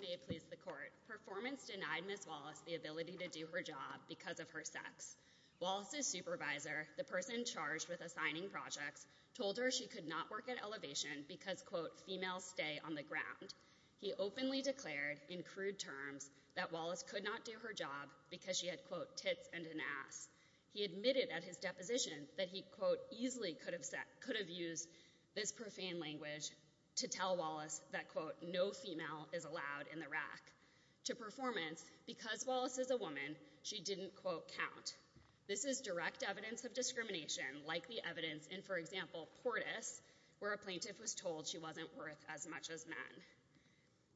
May it please the court. Performance denied Ms. Wallace the ability to do her job because of her sex. Wallace's supervisor, the person charged with assigning projects, told her she could not work at Elevation because, quote, female stay on the ground. He openly declared in crude terms that Wallace could not do her job because she had, quote, tits and an ass. He admitted at his deposition that he, quote, easily could have used this profane language to tell Wallace that, quote, no female is allowed in the rack. To Performance, because Wallace is a woman, she didn't, quote, count. This is direct evidence of discrimination, like the evidence in, for example, Portis, where a plaintiff was told she wasn't worth as much as men.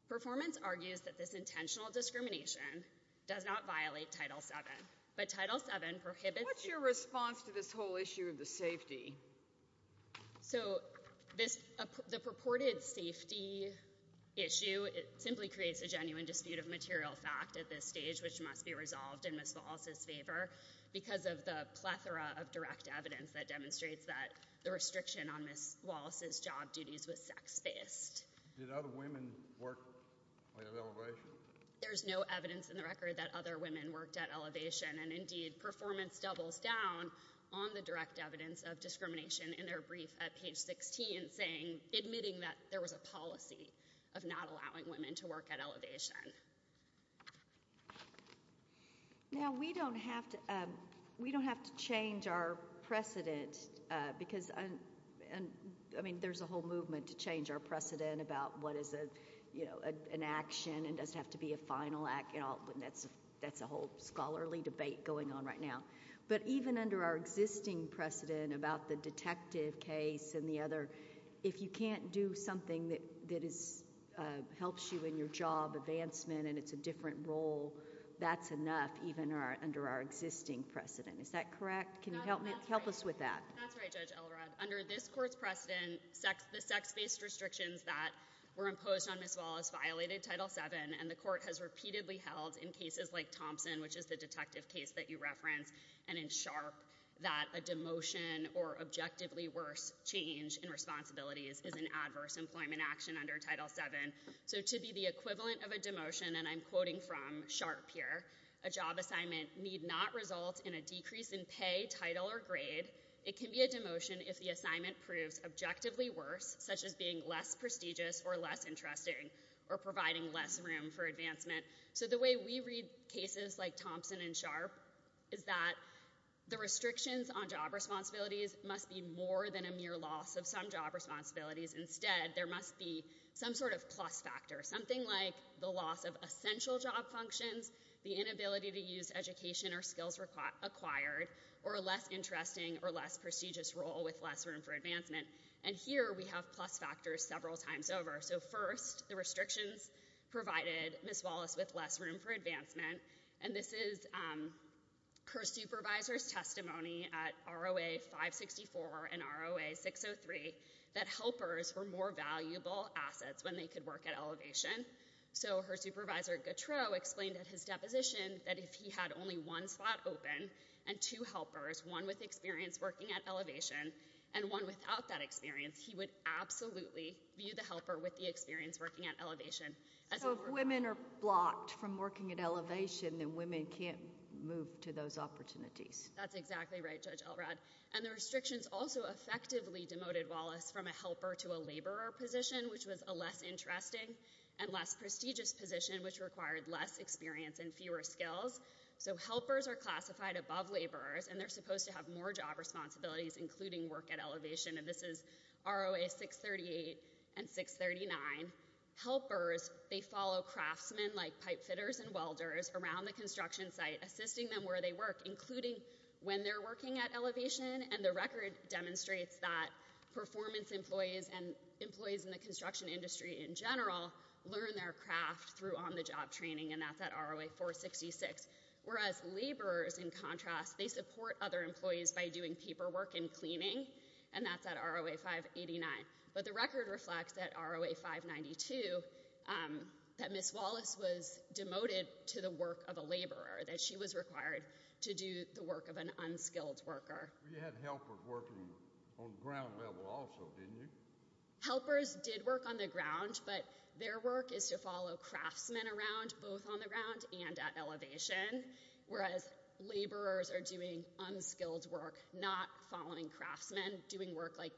Performance argues that this intentional discrimination does not violate Title VII, but Title VII prohibits- What's your response to this whole issue of the safety? So this, the purported safety issue, it simply creates a genuine dispute of material fact at this stage, which must be resolved in Ms. Wallace's favor because of the plethora of direct evidence that demonstrates that the restriction on Ms. Wallace's job duties was sex-based. Did other women work at Elevation? There's no evidence in the record that other women worked at Elevation, and indeed, Performance doubles down on the direct evidence of discrimination in their brief at page 16, admitting that there was a policy of not allowing women to work at Elevation. Now, we don't have to change our precedent because, I mean, there's a whole movement to change our precedent about what is an action and doesn't have to be a final act, and that's a whole scholarly debate going on right now, but even under our existing precedent about the detective case and the other, if you can't do something that helps you in your job advancement and it's a different role, that's enough, even under our existing precedent. Is that correct? Can you help me? Help us with that. That's right, Judge Elrod. Under this court's precedent, the sex-based restrictions that were imposed on Ms. Wallace violated Title VII, and the court has repeatedly held in cases like Thompson, which is the detective case that you referenced, and in Sharpe, that a demotion or objectively worse change in responsibilities is an adverse employment action under Title VII. So to be the equivalent of a demotion, and I'm quoting from Sharpe here, a job assignment need not result in a decrease in pay, title, or grade. It can be a demotion if the assignment proves objectively worse, such as being less prestigious or less interesting or providing less room for advancement. So the way we read cases like Thompson and Sharpe is that the restrictions on job responsibilities must be more than a mere loss of some job responsibilities. Instead, there must be some sort of plus factor, something like the loss of essential job functions, the inability to use education or skills acquired, or a less interesting or less prestigious role with less room for advancement. And here, we have plus factors several times over. So first, the restrictions provided Ms. Wallace with less room for advancement, and this is her supervisor's testimony at ROA-564 and ROA-603 that helpers were more valuable assets when they could work at Elevation. So her supervisor, Gautreaux, explained at his deposition that if he had only one slot open and two helpers, one with experience working at Elevation and one without that experience, he would absolutely view the helper with the experience working at Elevation. So if women are blocked from working at Elevation, then women can't move to those opportunities. That's exactly right, Judge Elrod. And the restrictions also effectively demoted Wallace from a helper to a laborer position, which was a less interesting and less prestigious position, which required less experience and fewer skills. So helpers are classified above laborers, and they're supposed to have more job responsibilities, including work at Elevation, and this is ROA-638 and 639. Helpers, they follow craftsmen like pipefitters and welders around the construction site, assisting them where they work, including when they're working at Elevation. And the record demonstrates that performance employees and employees in the construction industry in general learn their craft through on-the-job training, and that's at ROA-466. Whereas laborers, in contrast, they support other employees by doing paperwork and cleaning, and that's at ROA-589. But the record reflects that ROA-592, that Ms. Wallace was demoted to the work of a laborer, that she was required to do the work of an unskilled worker. We had helpers working on the ground level also, didn't you? Helpers did work on the ground, but their work is to follow craftsmen around, both on the ground and at Elevation, whereas laborers are doing unskilled work, not following craftsmen, doing work like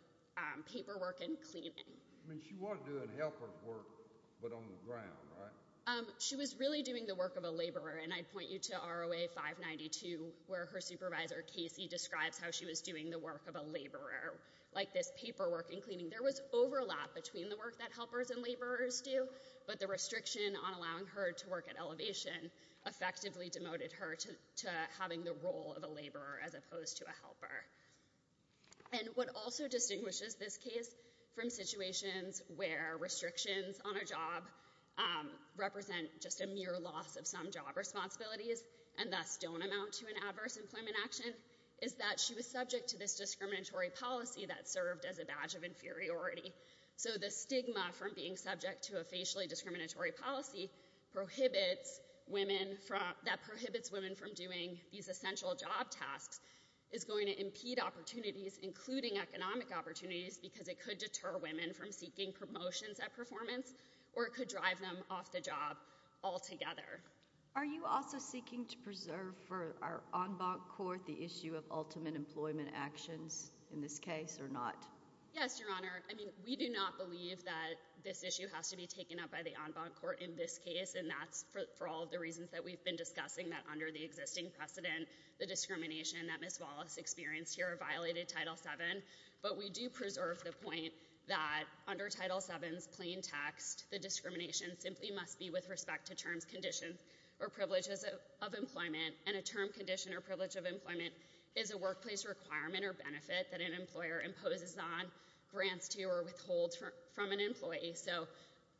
paperwork and cleaning. I mean, she wasn't doing helper work, but on the ground, right? She was really doing the work of a laborer, and I'd point you to ROA-592, where her supervisor, Casey, describes how she was doing the work of a laborer, like this paperwork and cleaning. There was overlap between the work that helpers and laborers do, but the restriction on allowing her to work at Elevation effectively demoted her to having the role of a laborer as opposed to a helper. And what also distinguishes this case from situations where restrictions on a job represent just a mere loss of some job responsibilities, and thus don't amount to an adverse employment action, is that she was subject to this discriminatory policy that served as a badge of inferiority. So the stigma from being subject to a facially discriminatory policy that prohibits women from doing these essential job tasks is going to impede opportunities, including economic opportunities, because it could deter women from seeking promotions at performance, or it could drive them off the job altogether. Are you also seeking to preserve for our en banc court the issue of ultimate employment actions in this case, or not? Yes, Your Honor. I mean, we do not believe that this issue has to be taken up by the en banc court in this case, and that's for all of the reasons that we've been discussing, that under the existing precedent, the discrimination that Ms. Wallace experienced here violated Title VII. But we do preserve the point that under Title VII's plain text, the discrimination simply must be with respect to terms, conditions, or privileges of employment. And a term, condition, or privilege of employment is a workplace requirement or benefit that an employer imposes on, grants to, or withholds from an employee. So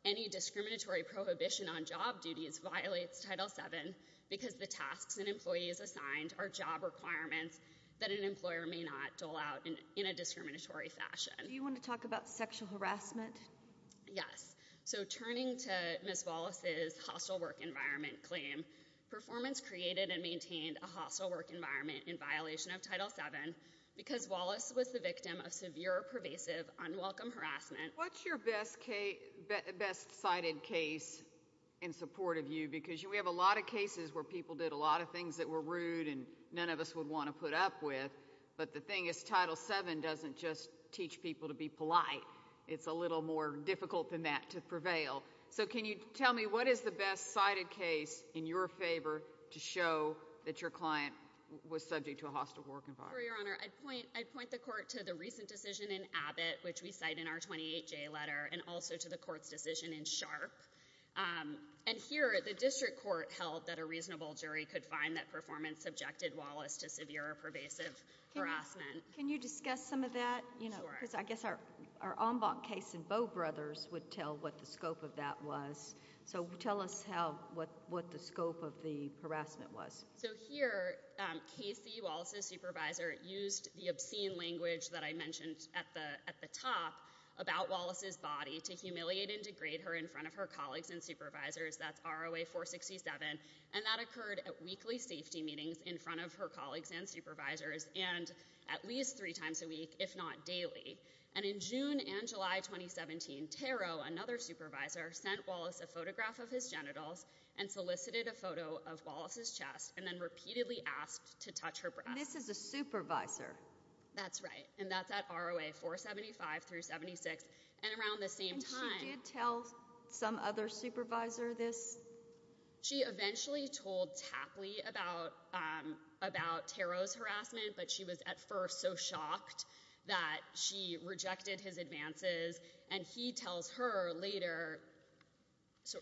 any discriminatory prohibition on job duties violates Title VII because the tasks an employee is assigned are job requirements that an employer may not dole out in a discriminatory fashion. Do you want to talk about sexual harassment? Yes. So, turning to Ms. Wallace's hostile work environment claim, performance created and was the victim of severe, pervasive, unwelcome harassment. What's your best case, best cited case in support of you? Because we have a lot of cases where people did a lot of things that were rude and none of us would want to put up with, but the thing is, Title VII doesn't just teach people to be polite. It's a little more difficult than that to prevail. So can you tell me, what is the best cited case in your favor to show that your client was subject to a hostile work environment? I'd point the court to the recent decision in Abbott, which we cite in our 28J letter, and also to the court's decision in Sharp. And here, the district court held that a reasonable jury could find that performance subjected Wallace to severe or pervasive harassment. Can you discuss some of that? Because I guess our en banc case in Bow Brothers would tell what the scope of that was. So tell us what the scope of the harassment was. So here, Casey, Wallace's supervisor, used the obscene language that I mentioned at the top about Wallace's body to humiliate and degrade her in front of her colleagues and supervisors, that's ROA 467, and that occurred at weekly safety meetings in front of her colleagues and supervisors, and at least three times a week, if not daily. And in June and July 2017, Taro, another supervisor, sent Wallace a photograph of his genitals and solicited a photo of Wallace's chest and then repeatedly asked to touch her breasts. And this is a supervisor? That's right. And that's at ROA 475 through 76. And around the same time... And she did tell some other supervisor this? She eventually told Tapley about Taro's harassment, but she was at first so shocked that she rejected his advances, and he tells her later,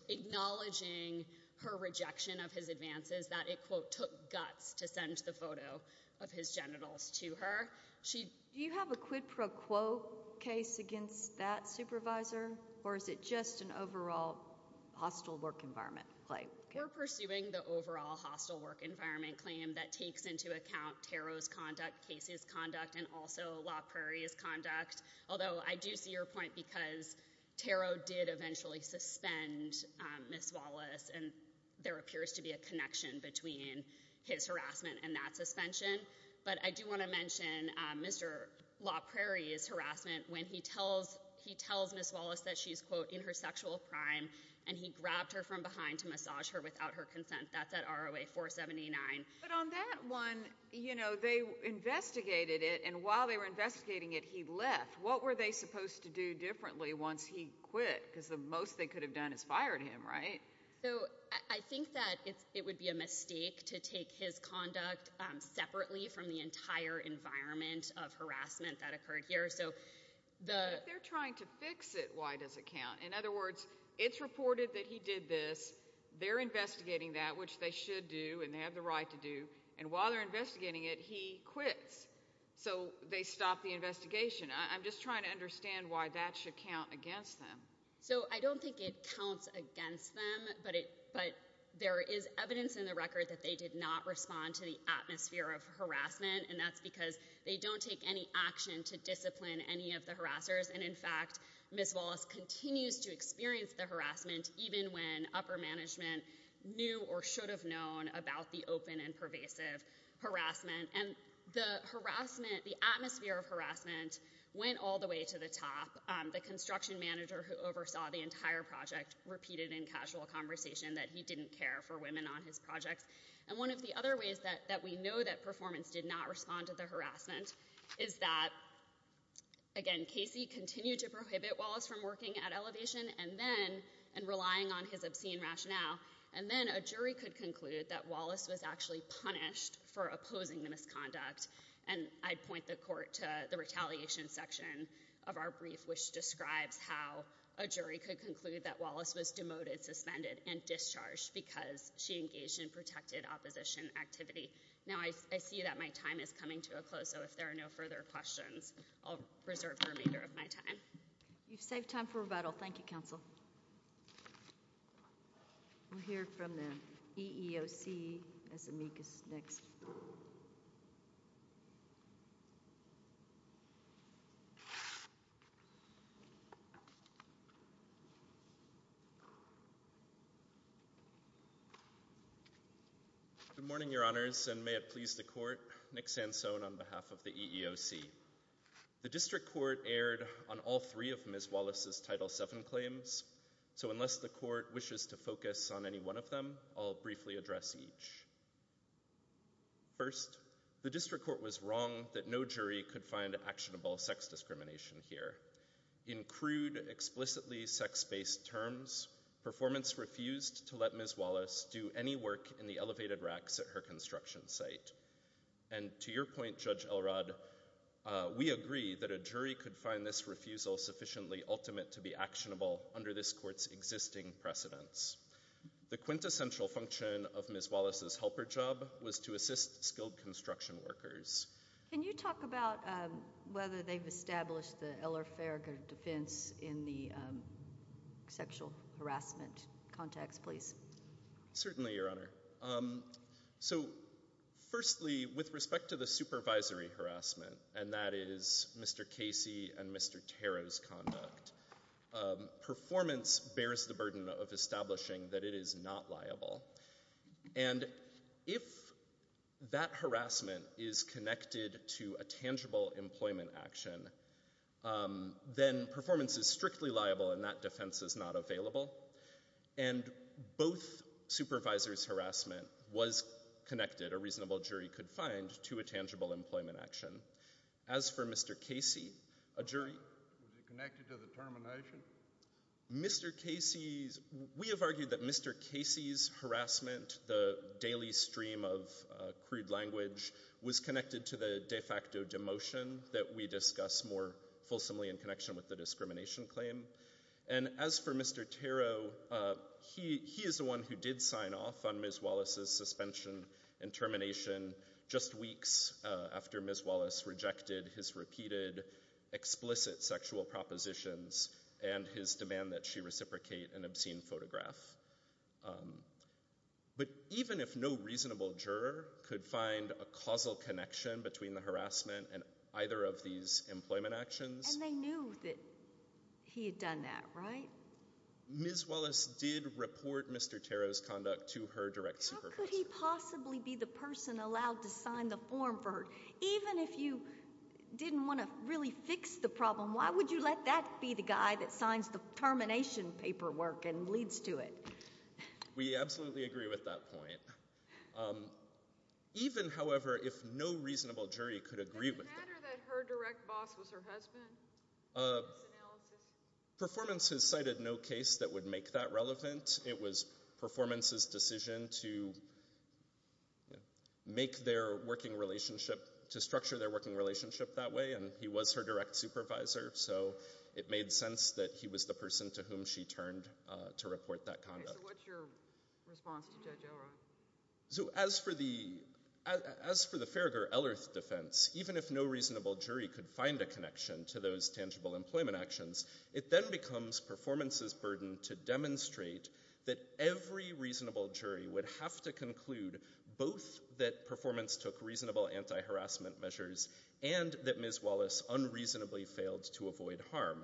acknowledging her rejection of his advances, that it, quote, took guts to send the photo of his genitals to her. She... Do you have a quid pro quo case against that supervisor, or is it just an overall hostile work environment claim? We're pursuing the overall hostile work environment claim that takes into account Taro's conduct, Casey's conduct, and also La Prairie's conduct, although I do see your point because Taro did eventually suspend Ms. Wallace, and there appears to be a connection between his harassment and that suspension. But I do want to mention Mr. La Prairie's harassment when he tells Ms. Wallace that she's, quote, in her sexual prime, and he grabbed her from behind to massage her without her consent. That's at ROA 479. But on that one, you know, they investigated it, and while they were investigating it, he left. What were they supposed to do differently once he quit? Because the most they could have done is fired him, right? So I think that it would be a mistake to take his conduct separately from the entire environment of harassment that occurred here. So the... If they're trying to fix it, why does it count? In other words, it's reported that he did this, they're investigating that, which they should do, and they have the right to do, and while they're investigating it, he quits. So they stop the investigation. I'm just trying to understand why that should count against them. So I don't think it counts against them, but there is evidence in the record that they did not respond to the atmosphere of harassment, and that's because they don't take any action to discipline any of the harassers, and in fact, Ms. Wallace continues to experience the harassment even when upper management knew or should have known about the open and pervasive harassment, and the atmosphere of harassment went all the way to the top. The construction manager who oversaw the entire project repeated in casual conversation that he didn't care for women on his projects, and one of the other ways that we know that performance did not respond to the harassment is that, again, Casey continued to prohibit Wallace from working at Elevation and relying on his obscene rationale, and then a jury could conclude that Wallace was actually punished for opposing the misconduct, and I'd point the court to the retaliation section of our brief, which describes how a jury could conclude that Wallace was demoted, suspended, and discharged because she engaged in protected opposition activity. Now, I see that my time is coming to a close, so if there are no further questions, I'll reserve the remainder of my time. You've saved time for rebuttal. Thank you, counsel. We'll hear from the EEOC as amicus next. Good morning, your honors, and may it please the court, Nick Sansone on behalf of the EEOC. The district court erred on all three of Ms. Wallace's Title VII claims, so unless the court wishes to focus on any one of them, I'll briefly address each. First, the district court was wrong that no jury could find actionable sex discrimination here. In crude, explicitly sex-based terms, performance refused to let Ms. Wallace do any work in the elevated racks at her construction site. And to your point, Judge Elrod, we agree that a jury could find this refusal sufficiently ultimate to be actionable under this court's existing precedents. The quintessential function of Ms. Wallace's helper job was to assist skilled construction workers. Can you talk about whether they've established the Eller-Ferger defense in the sexual harassment context, please? Certainly, your honor. So, firstly, with respect to the supervisory harassment, and that is Mr. Casey and Mr. Tarrow's conduct, performance bears the burden of establishing that it is not liable. And if that harassment is connected to a tangible employment action, then performance is strictly liable and that defense is not available. And both supervisors' harassment was connected, a reasonable jury could find, to a tangible employment action. As for Mr. Casey, a jury— Was it connected to the termination? Mr. Casey's—we have argued that Mr. Casey's harassment, the daily stream of crude language, was connected to the de facto demotion that we discuss more fulsomely in connection with the discrimination claim. And as for Mr. Tarrow, he is the one who did sign off on Ms. Wallace's suspension and termination just weeks after Ms. Wallace rejected his repeated explicit sexual propositions and his demand that she reciprocate an obscene photograph. But even if no reasonable juror could find a causal connection between the harassment and either of these employment actions— You've done that, right? Ms. Wallace did report Mr. Tarrow's conduct to her direct supervisor. How could he possibly be the person allowed to sign the form for her? Even if you didn't want to really fix the problem, why would you let that be the guy that signs the termination paperwork and leads to it? We absolutely agree with that point. Even however, if no reasonable jury could agree with it— Did you consider that her direct boss was her husband in this analysis? Performance has cited no case that would make that relevant. It was Performance's decision to make their working relationship—to structure their working relationship that way, and he was her direct supervisor. So it made sense that he was the person to whom she turned to report that conduct. So what's your response to Judge Elrod? So as for the Farragher-Ellerth defense, even if no reasonable jury could find a connection to those tangible employment actions, it then becomes Performance's burden to demonstrate that every reasonable jury would have to conclude both that Performance took reasonable anti-harassment measures and that Ms. Wallace unreasonably failed to avoid harm.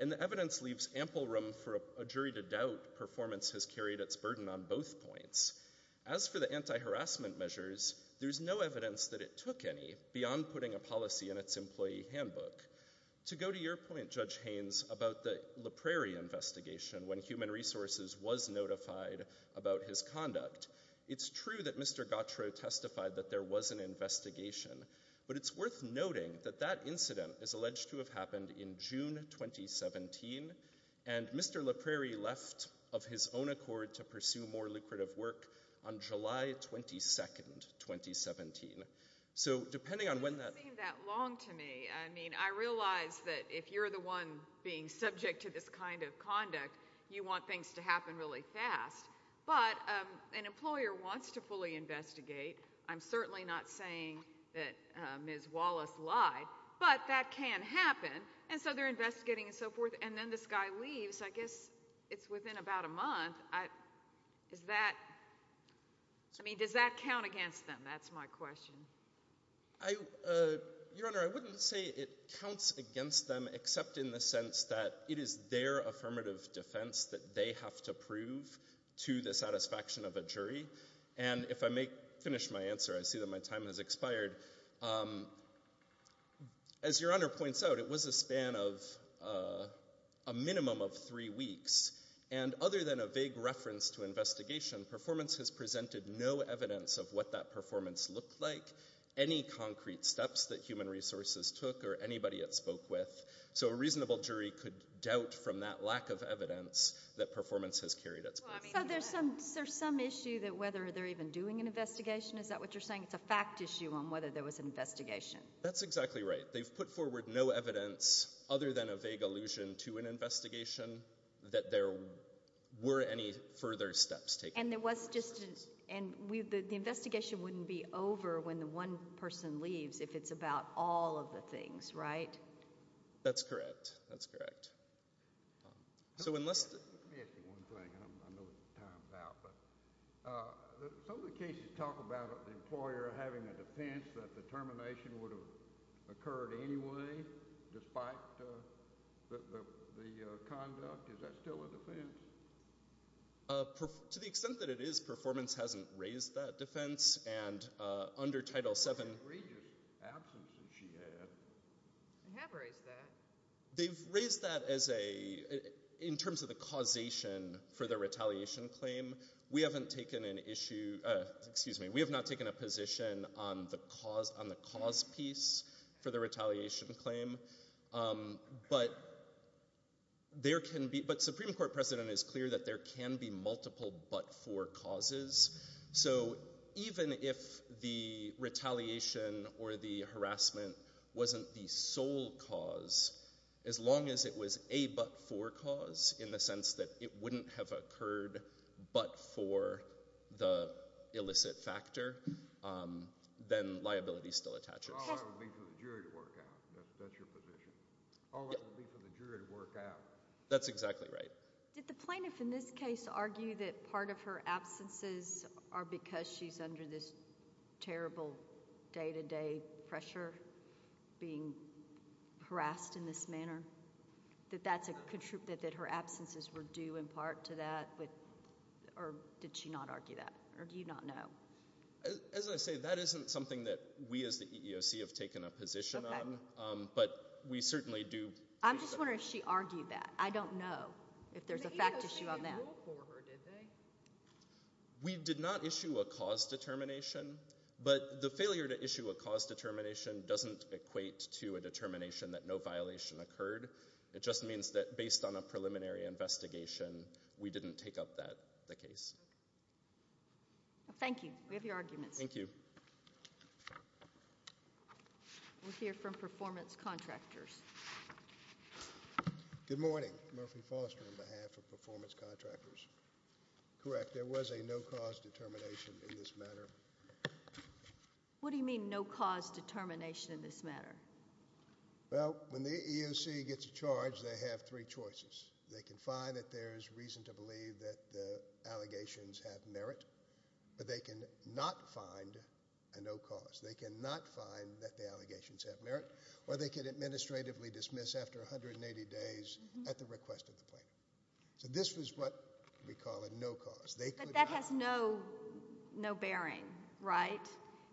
And the evidence leaves ample room for a jury to doubt Performance has carried its burden on both points. As for the anti-harassment measures, there's no evidence that it took any beyond putting a policy in its employee handbook. To go to your point, Judge Haynes, about the La Prairie investigation when Human Resources was notified about his conduct, it's true that Mr. Gautreaux testified that there was an investigation, but it's worth noting that that incident is alleged to have happened in June 2017, and Mr. La Prairie left of his own accord to pursue more lucrative work on July 22nd, 2017. So depending on when that... It doesn't seem that long to me. I mean, I realize that if you're the one being subject to this kind of conduct, you want things to happen really fast, but an employer wants to fully investigate. I'm certainly not saying that Ms. Wallace lied, but that can happen. And so they're investigating and so forth, and then this guy leaves, I guess it's within about a month. I... Is that... I mean, does that count against them? That's my question. I... Your Honor, I wouldn't say it counts against them, except in the sense that it is their affirmative defense that they have to prove to the satisfaction of a jury. And if I may finish my answer, I see that my time has expired. As Your Honor points out, it was a span of a minimum of three weeks, and other than a vague reference to investigation, performance has presented no evidence of what that performance looked like, any concrete steps that human resources took, or anybody it spoke with. So a reasonable jury could doubt from that lack of evidence that performance has carried its course. So I mean... So there's some... Is there some issue that whether they're even doing an investigation? Is that what you're saying? It's a fact issue on whether there was an investigation. That's exactly right. They've put forward no evidence, other than a vague allusion to an investigation, that there were any further steps taken. And there was just a... And we... The investigation wouldn't be over when the one person leaves, if it's about all of the things, right? That's correct. That's correct. So unless... Let me ask you one thing. I know it's time now, but some of the cases talk about an employer having a defense that the termination would have occurred anyway, despite the conduct. Is that still a defense? To the extent that it is, performance hasn't raised that defense, and under Title VII... It was an egregious absence that she had. They have raised that. They've raised that as a... In terms of the causation for the retaliation claim, we haven't taken an issue... Excuse me. We have not taken a position on the cause piece for the retaliation claim. But there can be... But Supreme Court precedent is clear that there can be multiple but-for causes. So even if the retaliation or the harassment wasn't the sole cause, as long as it was a but-for cause, in the sense that it wouldn't have occurred but for the illicit factor, then liability still attaches. All that would be for the jury to work out. That's your position. All that would be for the jury to work out. That's exactly right. Did the plaintiff in this case argue that part of her absences are because she's under this terrible day-to-day pressure, being harassed in this manner? That her absences were due in part to that? Or did she not argue that? Or do you not know? As I say, that isn't something that we as the EEOC have taken a position on. But we certainly do... I'm just wondering if she argued that. I don't know if there's a fact issue on that. The EEOC didn't rule for her, did they? We did not issue a cause determination. But the failure to issue a cause determination doesn't equate to a determination that no violation occurred. It just means that based on a preliminary investigation, we didn't take up the case. Thank you. We have your arguments. Thank you. We'll hear from performance contractors. Good morning. Murphy Foster on behalf of performance contractors. Correct. There was a no cause determination in this matter. What do you mean, no cause determination in this matter? Well, when the EEOC gets a charge, they have three choices. They can find that there's reason to believe that the allegations have merit. But they cannot find a no cause. They cannot find that the allegations have merit. Or they could administratively dismiss after 180 days at the request of the plaintiff. So this was what we call a no cause. But that has no bearing, right?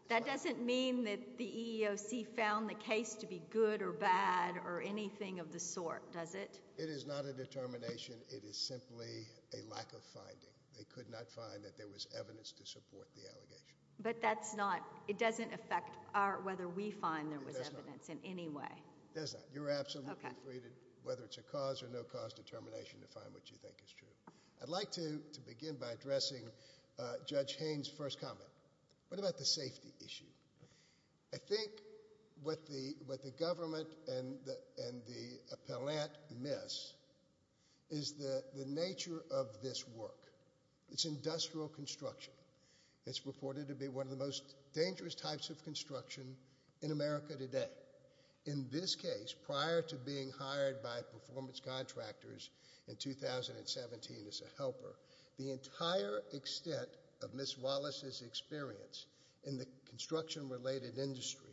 That doesn't mean that the EEOC found the case to be good or bad or anything of the sort, does it? It is not a determination. It is simply a lack of finding. They could not find that there was evidence to support the allegation. But that's not... That's not whether we find there was evidence in any way. That's not. You're absolutely free to, whether it's a cause or no cause determination, to find what you think is true. I'd like to begin by addressing Judge Haynes' first comment. What about the safety issue? I think what the government and the appellant miss is the nature of this work. It's industrial construction. It's reported to be one of the most dangerous types of construction in America today. In this case, prior to being hired by performance contractors in 2017 as a helper, the entire extent of Miss Wallace's experience in the construction-related industry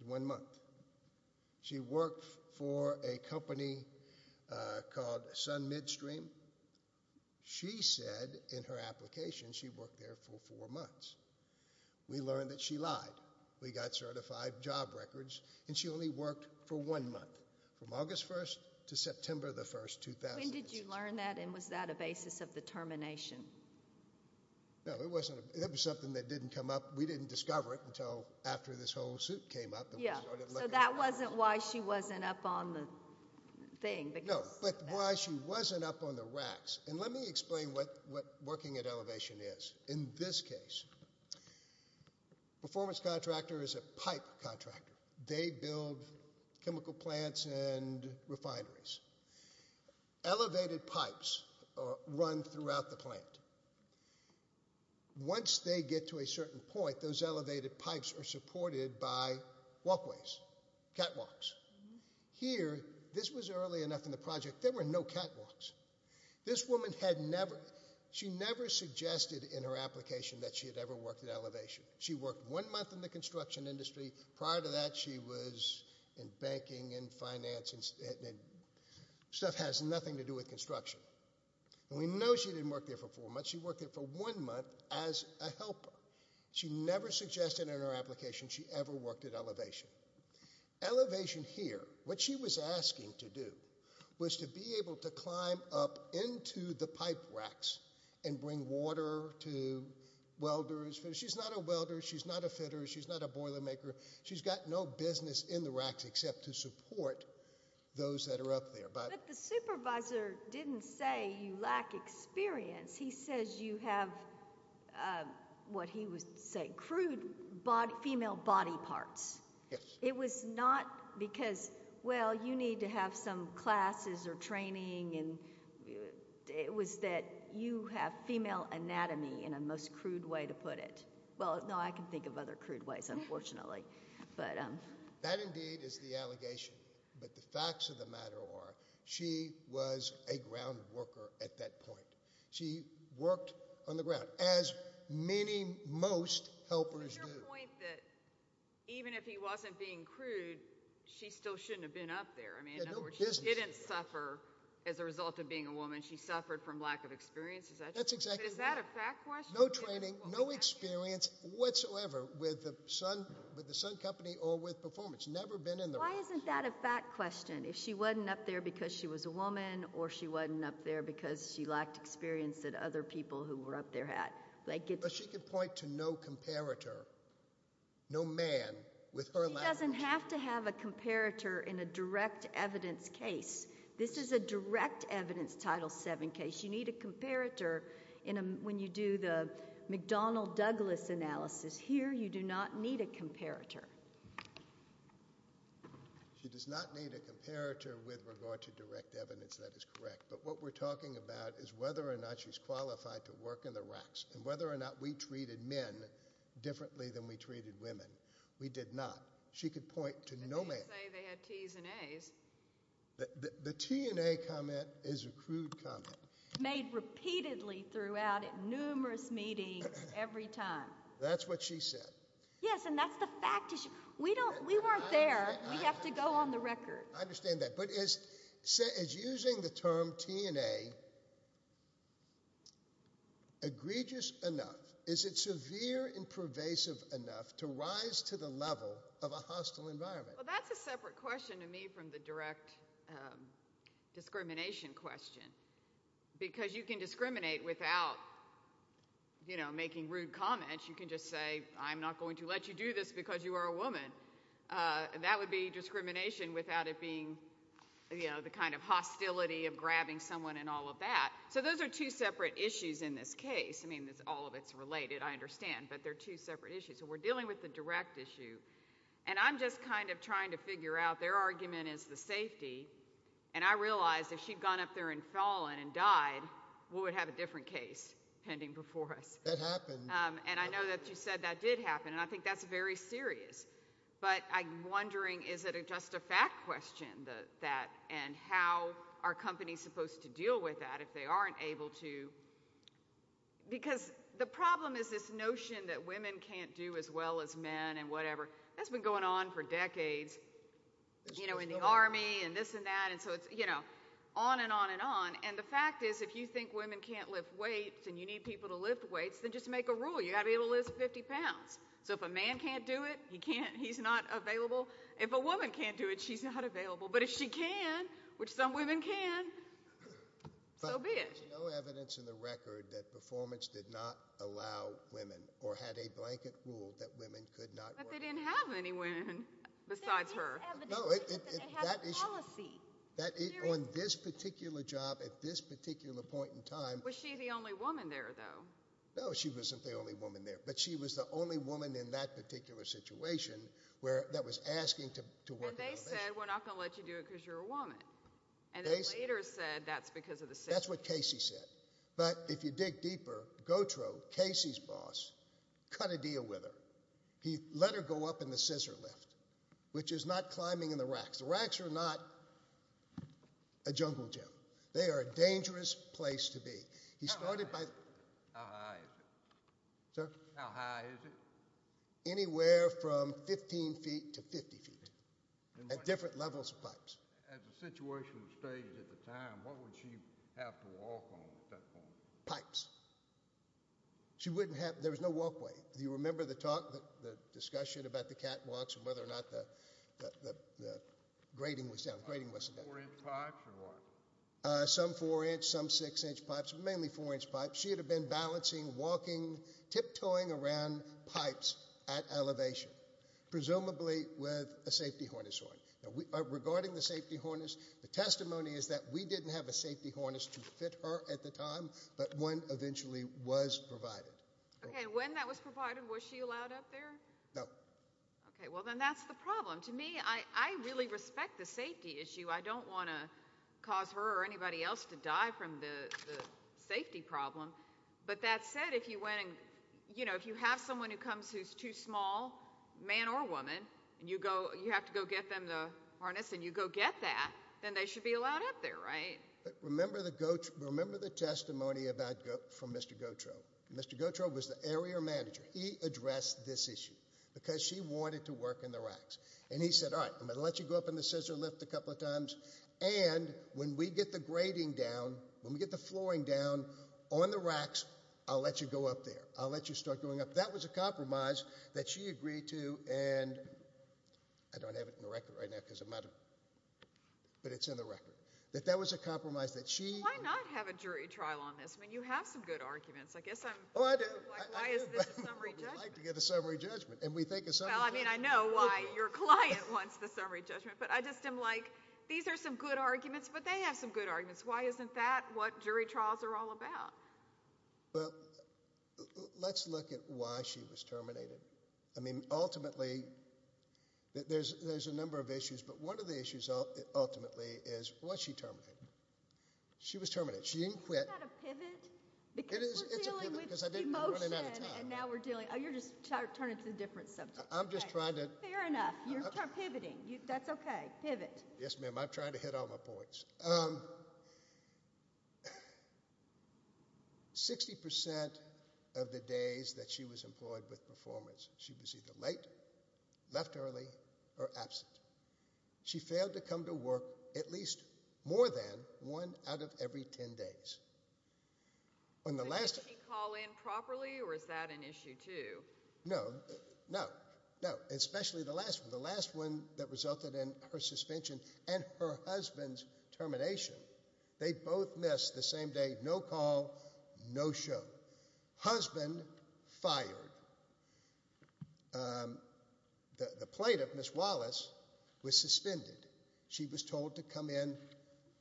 is one month. She worked for a company called Sun Midstream. She said in her application she worked there for four months. We learned that she lied. We got certified job records, and she only worked for one month, from August 1st to September 1st, 2016. When did you learn that, and was that a basis of determination? No, it wasn't. It was something that didn't come up. We didn't discover it until after this whole suit came up. Yeah, so that wasn't why she wasn't up on the thing. No, but why she wasn't up on the racks. Let me explain what working at Elevation is. In this case, performance contractor is a pipe contractor. They build chemical plants and refineries. Elevated pipes run throughout the plant. Once they get to a certain point, those elevated pipes are supported by walkways, catwalks. Here, this was early enough in the project, there were no catwalks. This woman had never, she never suggested in her application that she had ever worked at Elevation. She worked one month in the construction industry. Prior to that, she was in banking and finance, and stuff has nothing to do with construction. And we know she didn't work there for four months. She worked there for one month as a helper. She never suggested in her application she ever worked at Elevation. Elevation here, what she was asking to do, was to be able to climb up into the pipe racks and bring water to welders. She's not a welder, she's not a fitter, she's not a boiler maker. She's got no business in the racks except to support those that are up there. But the supervisor didn't say you lack experience. He says you have, what he would say, crude female body parts. It was not because, well, you need to have some classes or training. It was that you have female anatomy, in a most crude way to put it. Well, no, I can think of other crude ways, unfortunately. That, indeed, is the allegation. But the facts of the matter are, she was a ground worker at that point. She worked on the ground, as many, most helpers do. But is your point that even if he wasn't being crude, she still shouldn't have been up there? I mean, in other words, she didn't suffer as a result of being a woman. She suffered from lack of experience. Is that true? That's exactly right. But is that a fact question? No training, no experience whatsoever with the Sun Company or with performance. Never been in the racks. Why isn't that a fact question? If she wasn't up there because she was a woman or she wasn't up there because she lacked experience that other people who were up there had. But she could point to no comparator, no man, with her lack of experience. She doesn't have to have a comparator in a direct evidence case. This is a direct evidence Title VII case. You need a comparator when you do the McDonnell-Douglas analysis. Here, you do not need a comparator. She does not need a comparator with regard to direct evidence. That is correct. But what we're talking about is whether or not she's qualified to work in the racks and whether or not we treated men differently than we treated women. We did not. She could point to no man. They didn't say they had Ts and As. The T and A comment is a crude comment. Made repeatedly throughout numerous meetings every time. That's what she said. Yes, and that's the fact. We weren't there. We have to go on the record. I understand that. But is using the term T and A egregious enough? Is it severe and pervasive enough to rise to the level of a hostile environment? Well, that's a separate question to me from the direct discrimination question because you can discriminate without, you know, making rude comments. You can just say, I'm not going to let you do this because you are a woman. That would be discrimination without it being, you know, the kind of hostility of grabbing someone and all of that. So those are two separate issues in this case. I mean, all of it's related, I understand, but they're two separate issues. So we're dealing with the direct issue, and I'm just kind of trying to figure out their argument is the safety, and I realize if she'd gone up there and fallen and died, we would have a different case pending before us. That happened. And I know that you said that did happen, and I think that's very serious. But I'm wondering, is it just a fact question, that, and how are companies supposed to deal with that if they aren't able to? Because the problem is this notion that women can't do as well as men and whatever. That's been going on for decades, you know, in the Army and this and that, and so it's, you know, on and on and on. And the fact is if you think women can't lift weights and you need people to lift weights, then just make a rule. You've got to be able to lift 50 pounds. So if a man can't do it, he can't. He's not available. If a woman can't do it, she's not available. But if she can, which some women can, so be it. But there's no evidence in the record that performance did not allow women or had a blanket rule that women could not work. But they didn't have any women besides her. No, on this particular job at this particular point in time. Was she the only woman there, though? No, she wasn't the only woman there. But she was the only woman in that particular situation that was asking to work in the mission. And they said we're not going to let you do it because you're a woman. And they later said that's because of the scissors. That's what Casey said. But if you dig deeper, Gautreaux, Casey's boss, cut a deal with her. He let her go up in the scissor lift, which is not climbing in the racks. The racks are not a jungle gym. They are a dangerous place to be. How high is it? Sir? How high is it? Anywhere from 15 feet to 50 feet at different levels of pipes. As the situation was staged at the time, what would she have to walk on at that point? Pipes. She wouldn't have – there was no walkway. Do you remember the discussion about the catwalks and whether or not the grating was down, the grating wasn't down? Four-inch pipes or what? Some four-inch, some six-inch pipes, but mainly four-inch pipes. She would have been balancing, walking, tiptoeing around pipes at elevation, presumably with a safety harness on. Now, regarding the safety harness, the testimony is that we didn't have a safety harness to fit her at the time, but one eventually was provided. Okay. When that was provided, was she allowed up there? No. Okay. Well, then that's the problem. To me, I really respect the safety issue. I don't want to cause her or anybody else to die from the safety problem. But that said, if you have someone who comes who's too small, man or woman, and you have to go get them the harness and you go get that, then they should be allowed up there, right? Remember the testimony from Mr. Gautreaux. Mr. Gautreaux was the area manager. He addressed this issue because she wanted to work in the racks. And he said, all right, I'm going to let you go up in the scissor lift a couple of times, and when we get the grading down, when we get the flooring down on the racks, I'll let you go up there. I'll let you start going up. That was a compromise that she agreed to, and I don't have it in the record right now because I'm out of it, but it's in the record, that that was a compromise that she – Why not have a jury trial on this? I mean, you have some good arguments. I guess I'm – Oh, I do. Why is this a summary judgment? Well, we like to get a summary judgment, and we think a summary judgment – Well, I mean, I know why your client wants the summary judgment, but I just am like, these are some good arguments, but they have some good arguments. Why isn't that what jury trials are all about? Well, let's look at why she was terminated. I mean, ultimately, there's a number of issues, but one of the issues ultimately is, well, why is she terminated? She was terminated. She didn't quit. Isn't that a pivot? It is. We're dealing with emotion, and now we're dealing – Oh, you're just turning to a different subject. I'm just trying to – Fair enough. You're pivoting. That's okay. Pivot. Yes, ma'am. I'm trying to hit all my points. she was either late, left early, or absent. She failed to come to work at least more than one out of every 10 days. Did she call in properly, or is that an issue, too? No, no, no, especially the last one, the last one that resulted in her suspension and her husband's termination. They both missed the same day, no call, no show. Husband fired. The plaintiff, Ms. Wallace, was suspended. She was told to come in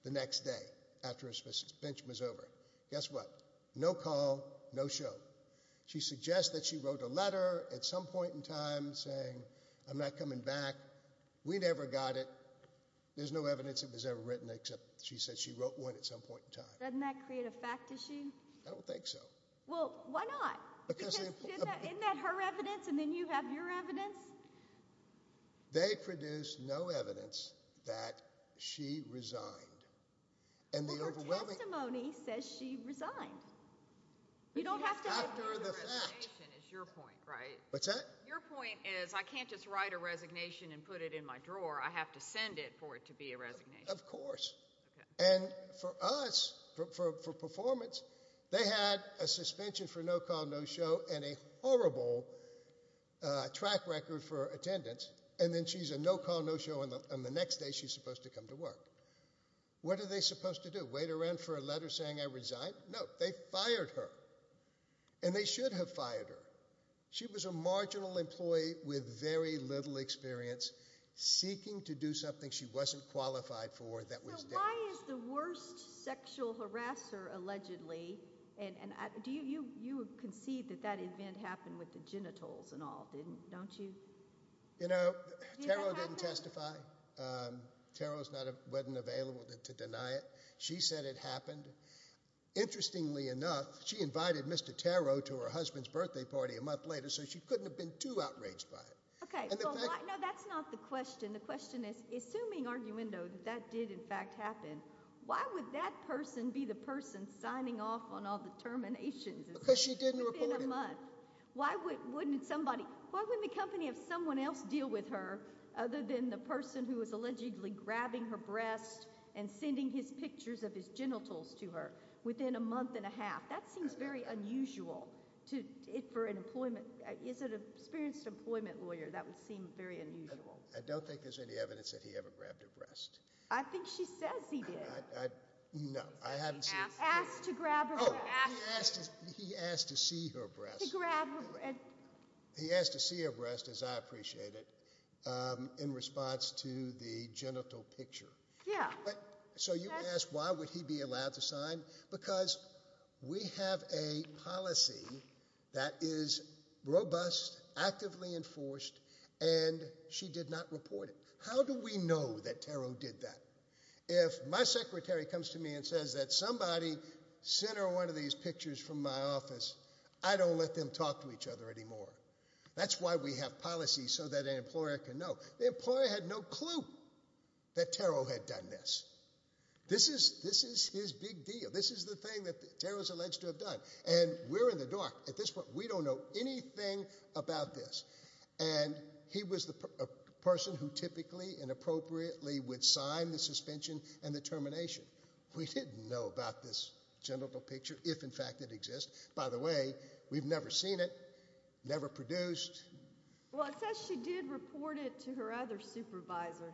the next day after her suspension was over. Guess what? No call, no show. She suggests that she wrote a letter at some point in time saying, I'm not coming back. We never got it. There's no evidence it was ever written, except she said she wrote one at some point in time. Doesn't that create a fact issue? I don't think so. Well, why not? Isn't that her evidence, and then you have your evidence? They produced no evidence that she resigned. Well, her testimony says she resigned. You don't have to have a written resignation is your point, right? What's that? Your point is I can't just write a resignation and put it in my drawer. I have to send it for it to be a resignation. Of course. And for us, for performance, they had a suspension for no call, no show, and a horrible track record for attendance, and then she's a no call, no show, and the next day she's supposed to come to work. What are they supposed to do? Wait around for a letter saying I resigned? No. They fired her, and they should have fired her. She was a marginal employee with very little experience, seeking to do something she wasn't qualified for that was deadly. So why is the worst sexual harasser allegedly, and you concede that that event happened with the genitals and all, don't you? You know, Taro didn't testify. Taro wasn't available to deny it. She said it happened. Interestingly enough, she invited Mr. Taro to her husband's birthday party a month later, so she couldn't have been too outraged by it. Okay. No, that's not the question. The question is, assuming arguendo that that did in fact happen, why would that person be the person signing off on all the terminations? Because she didn't report it. Within a month. Why wouldn't somebody, why wouldn't the company of someone else deal with her other than the person who was allegedly grabbing her breast and sending his pictures of his genitals to her within a month and a half? That seems very unusual for an employment, is it an experienced employment lawyer? That would seem very unusual. I don't think there's any evidence that he ever grabbed her breast. I think she says he did. No, I haven't seen it. Asked to grab her breast. Oh, he asked to see her breast. He grabbed her breast. He asked to see her breast, as I appreciate it, in response to the genital picture. Yeah. So you ask why would he be allowed to sign? Because we have a policy that is robust, actively enforced, and she did not report it. How do we know that Tarot did that? If my secretary comes to me and says that somebody sent her one of these pictures from my office, I don't let them talk to each other anymore. That's why we have policies so that an employer can know. The employer had no clue that Tarot had done this. This is his big deal. This is the thing that Tarot is alleged to have done. And we're in the dark. At this point, we don't know anything about this. And he was the person who typically and appropriately would sign the suspension and the termination. We didn't know about this genital picture, if, in fact, it exists. By the way, we've never seen it, never produced. Well, it says she did report it to her other supervisor.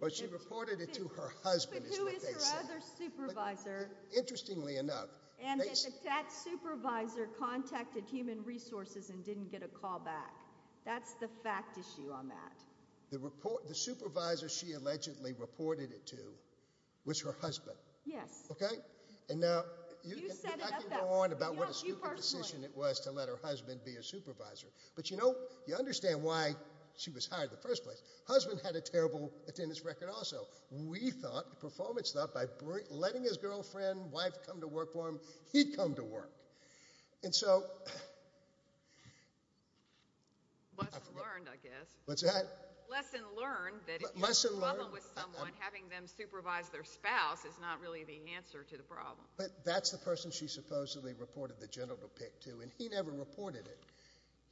Well, she reported it to her husband, is what they say. But who is her other supervisor? Interestingly enough. And that that supervisor contacted Human Resources and didn't get a call back. That's the fact issue on that. The supervisor she allegedly reported it to was her husband. Yes. Okay? You set it up that way. I can go on about what a stupid decision it was to let her husband be a supervisor. But, you know, you understand why she was hired in the first place. Husband had a terrible attendance record also. We thought, the performance thought, by letting his girlfriend, wife, come to work for him, he'd come to work. And so. Lesson learned, I guess. What's that? Lesson learned that if you have a problem with someone, having them supervise their spouse is not really the answer to the problem. But that's the person she supposedly reported the genital pic to, and he never reported it.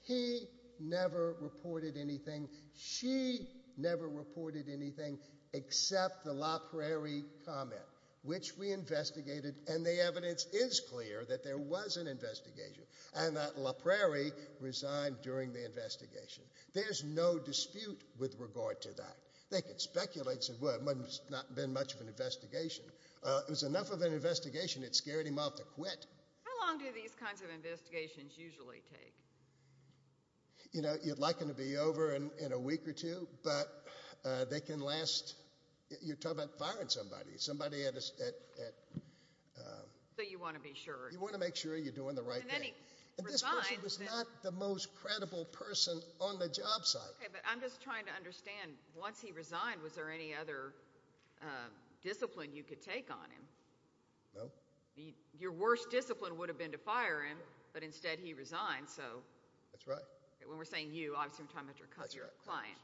He never reported anything. She never reported anything except the La Prairie comment, which we investigated. And the evidence is clear that there was an investigation and that La Prairie resigned during the investigation. There's no dispute with regard to that. They could speculate and say, well, it must not have been much of an investigation. It was enough of an investigation, it scared him off to quit. How long do these kinds of investigations usually take? You know, you'd like them to be over in a week or two, but they can last. You're talking about firing somebody, somebody at. So you want to be sure. You want to make sure you're doing the right thing. And this person was not the most credible person on the job site. But I'm just trying to understand, once he resigned, was there any other discipline you could take on him? No. Your worst discipline would have been to fire him, but instead he resigned. That's right. When we're saying you, obviously we're talking about your client.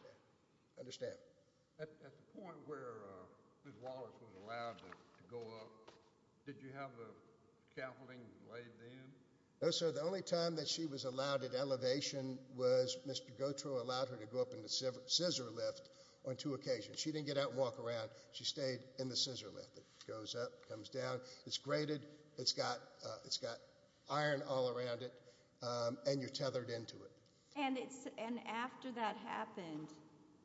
I understand. At the point where Ms. Wallace was allowed to go up, did you have the scaffolding laid in? No, sir. The only time that she was allowed at elevation was Mr. Gautreaux allowed her to go up in the scissor lift on two occasions. She didn't get out and walk around. She stayed in the scissor lift. It goes up, comes down. It's graded. It's got iron all around it, and you're tethered into it. And after that happened,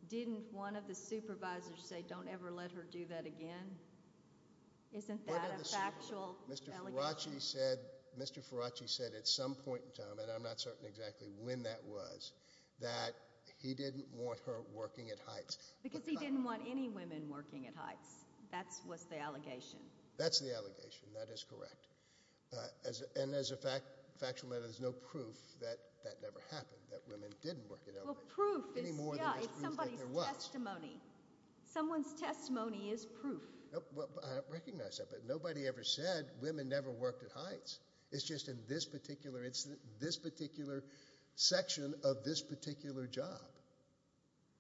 didn't one of the supervisors say, don't ever let her do that again? Isn't that a factual allegation? Mr. Faraci said at some point in time, and I'm not certain exactly when that was, that he didn't want her working at heights. Because he didn't want any women working at heights. That was the allegation. That's the allegation. That is correct. And as a factual matter, there's no proof that that never happened, that women didn't work at elevation. Well, proof is, yeah, it's somebody's testimony. Someone's testimony is proof. I recognize that, but nobody ever said women never worked at heights. It's just in this particular section of this particular job.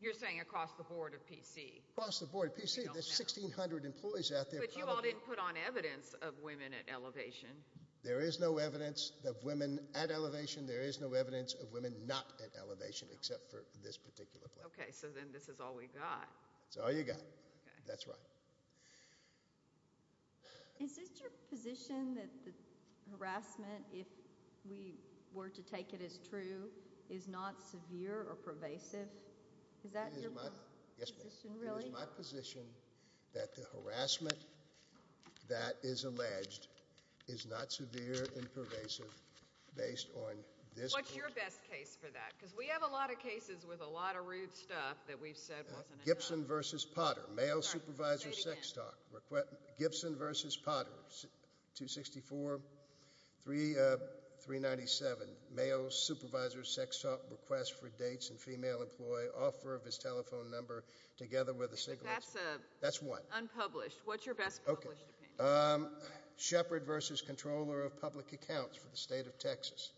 You're saying across the board at PC? Across the board at PC. There's 1,600 employees out there. But you all didn't put on evidence of women at elevation. There is no evidence of women at elevation. There is no evidence of women not at elevation except for this particular place. Okay, so then this is all we've got. That's all you've got. That's right. Is this your position that the harassment, if we were to take it as true, is not severe or pervasive? Is that your position? Yes, ma'am. Is that your position, really? It is my position that the harassment that is alleged is not severe and pervasive based on this- What's your best case for that? Because we have a lot of cases with a lot of rude stuff that we've said wasn't a job. Gibson v. Potter, male supervisor sex talk. Sorry, say it again. Gibson v. Potter, 264-397. Male supervisor sex talk request for dates and female employee offer of his telephone number together with a single- That's unpublished. What's your best published opinion? Shepherd v. Controller of Public Accounts for the State of Texas.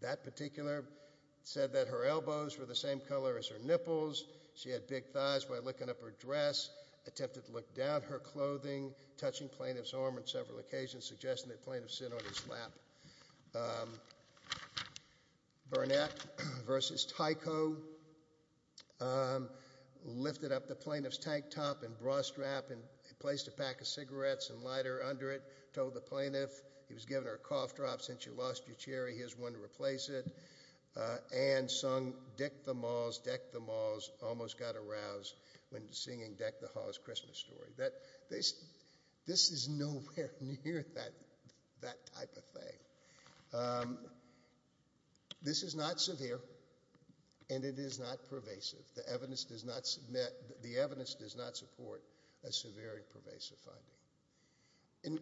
That particular said that her elbows were the same color as her nipples. She had big thighs by licking up her dress, attempted to lick down her clothing, touching plaintiff's arm on several occasions, suggesting that plaintiff sit on his lap. Burnett v. Tyco, lifted up the plaintiff's tank top and bra strap and placed a pack of cigarettes and lighter under it, told the plaintiff, he was giving her a cough drop, since you lost your cherry, here's one to replace it, and sung Deck the Malls, Deck the Malls, Almost Got Aroused when singing Deck the Halls Christmas Story. This is nowhere near that type of thing. This is not severe and it is not pervasive. The evidence does not support a severe and pervasive finding.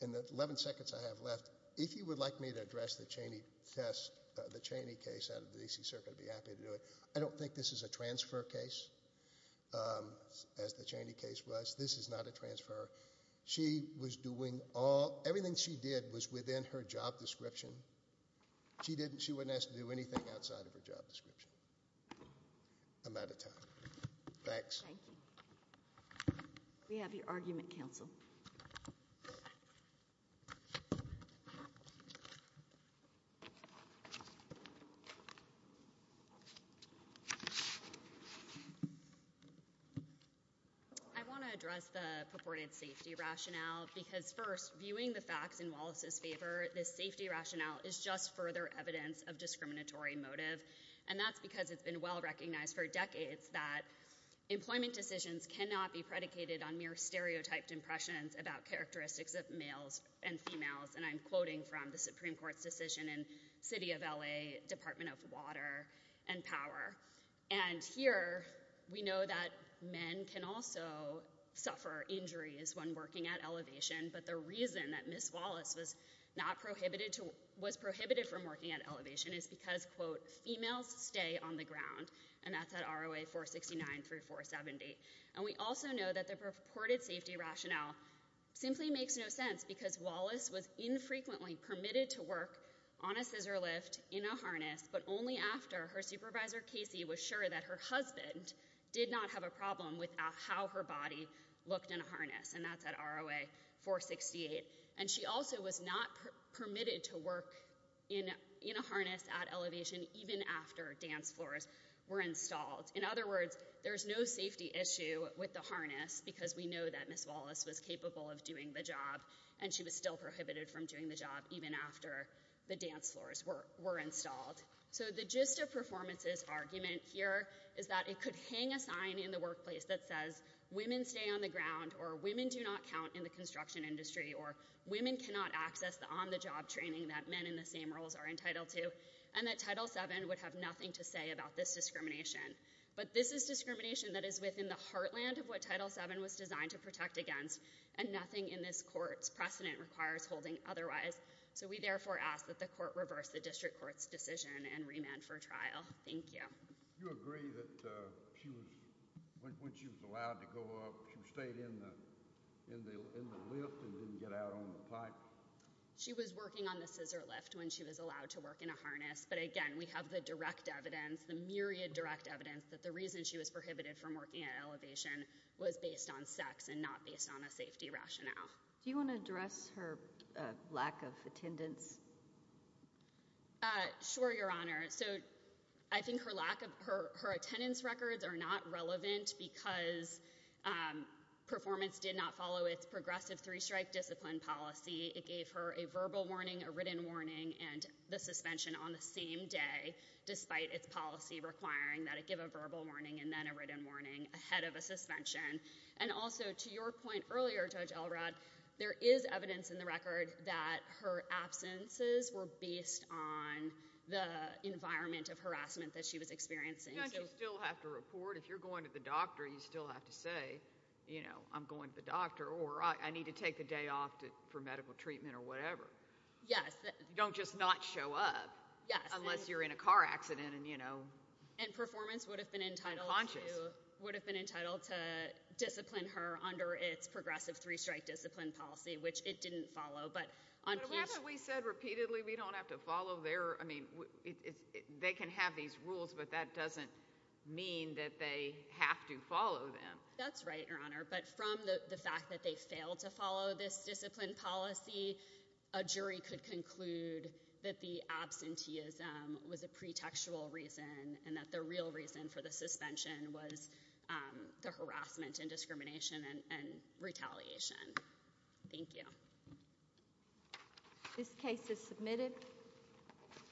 In the 11 seconds I have left, if you would like me to address the Cheney test, the Cheney case out of the D.C. Circuit, I'd be happy to do it. I don't think this is a transfer case, as the Cheney case was. This is not a transfer. She was doing all, everything she did was within her job description. She didn't, she wasn't asked to do anything outside of her job description. I'm out of time. Thanks. Thank you. We have your argument, counsel. I want to address the purported safety rationale, because first, viewing the facts in Wallace's favor, this safety rationale is just further evidence of discriminatory motive, and that's because it's been well recognized for decades that employment decisions cannot be predicated on mere stereotyped impressions about characteristics of males and females, and I'm quoting from the Supreme Court's decision in City of L.A., Department of Water and Power. And here, we know that men can also suffer injuries when working at elevation, but the reason that Ms. Wallace was not prohibited to, was prohibited from working at elevation is because, quote, females stay on the ground, and that's at ROA 469 through 470. And we also know that the purported safety rationale simply makes no sense, because Wallace was infrequently permitted to work on a scissor lift in a harness, but only after her supervisor, Casey, was sure that her husband did not have a problem with how her body looked in a harness, and that's at ROA 468. And she also was not permitted to work in a harness at elevation even after dance floors were installed. In other words, there's no safety issue with the harness, because we know that Ms. Wallace was capable of doing the job, and she was still prohibited from doing the job even after the dance floors were installed. So the gist of performance's argument here is that it could hang a sign in the workplace that says, women stay on the ground, or women do not count in the construction industry, or women cannot access the on-the-job training that men in the same roles are entitled to, and that Title VII would have nothing to say about this discrimination. But this is discrimination that is within the heartland of what Title VII was designed to protect against, and nothing in this court's precedent requires holding otherwise. So we therefore ask that the court reverse the district court's decision and remand for trial. Thank you. You agree that when she was allowed to go up, she stayed in the lift and didn't get out on the pipe? She was working on the scissor lift when she was allowed to work in a harness. But again, we have the direct evidence, the myriad direct evidence, that the reason she was prohibited from working at elevation was based on sex and not based on a safety rationale. Do you want to address her lack of attendance? Sure, Your Honor. So I think her attendance records are not relevant because performance did not follow its progressive three-strike discipline policy. It gave her a verbal warning, a written warning, and the suspension on the same day, despite its policy requiring that it give a verbal warning and then a written warning ahead of a suspension. And also, to your point earlier, Judge Elrod, there is evidence in the record that her absences were based on the environment of harassment that she was experiencing. Don't you still have to report? If you're going to the doctor, you still have to say, you know, I'm going to the doctor or I need to take the day off for medical treatment or whatever. Yes. You don't just not show up. Yes. Unless you're in a car accident and, you know. And performance would have been entitled to. Conscious. Discipline her under its progressive three-strike discipline policy, which it didn't follow. But we said repeatedly we don't have to follow their. I mean, they can have these rules, but that doesn't mean that they have to follow them. That's right, Your Honor. But from the fact that they failed to follow this discipline policy, a jury could conclude that the absenteeism was a pretextual reason and that the real reason for the suspension was the harassment and discrimination and retaliation. Thank you. This case is submitted.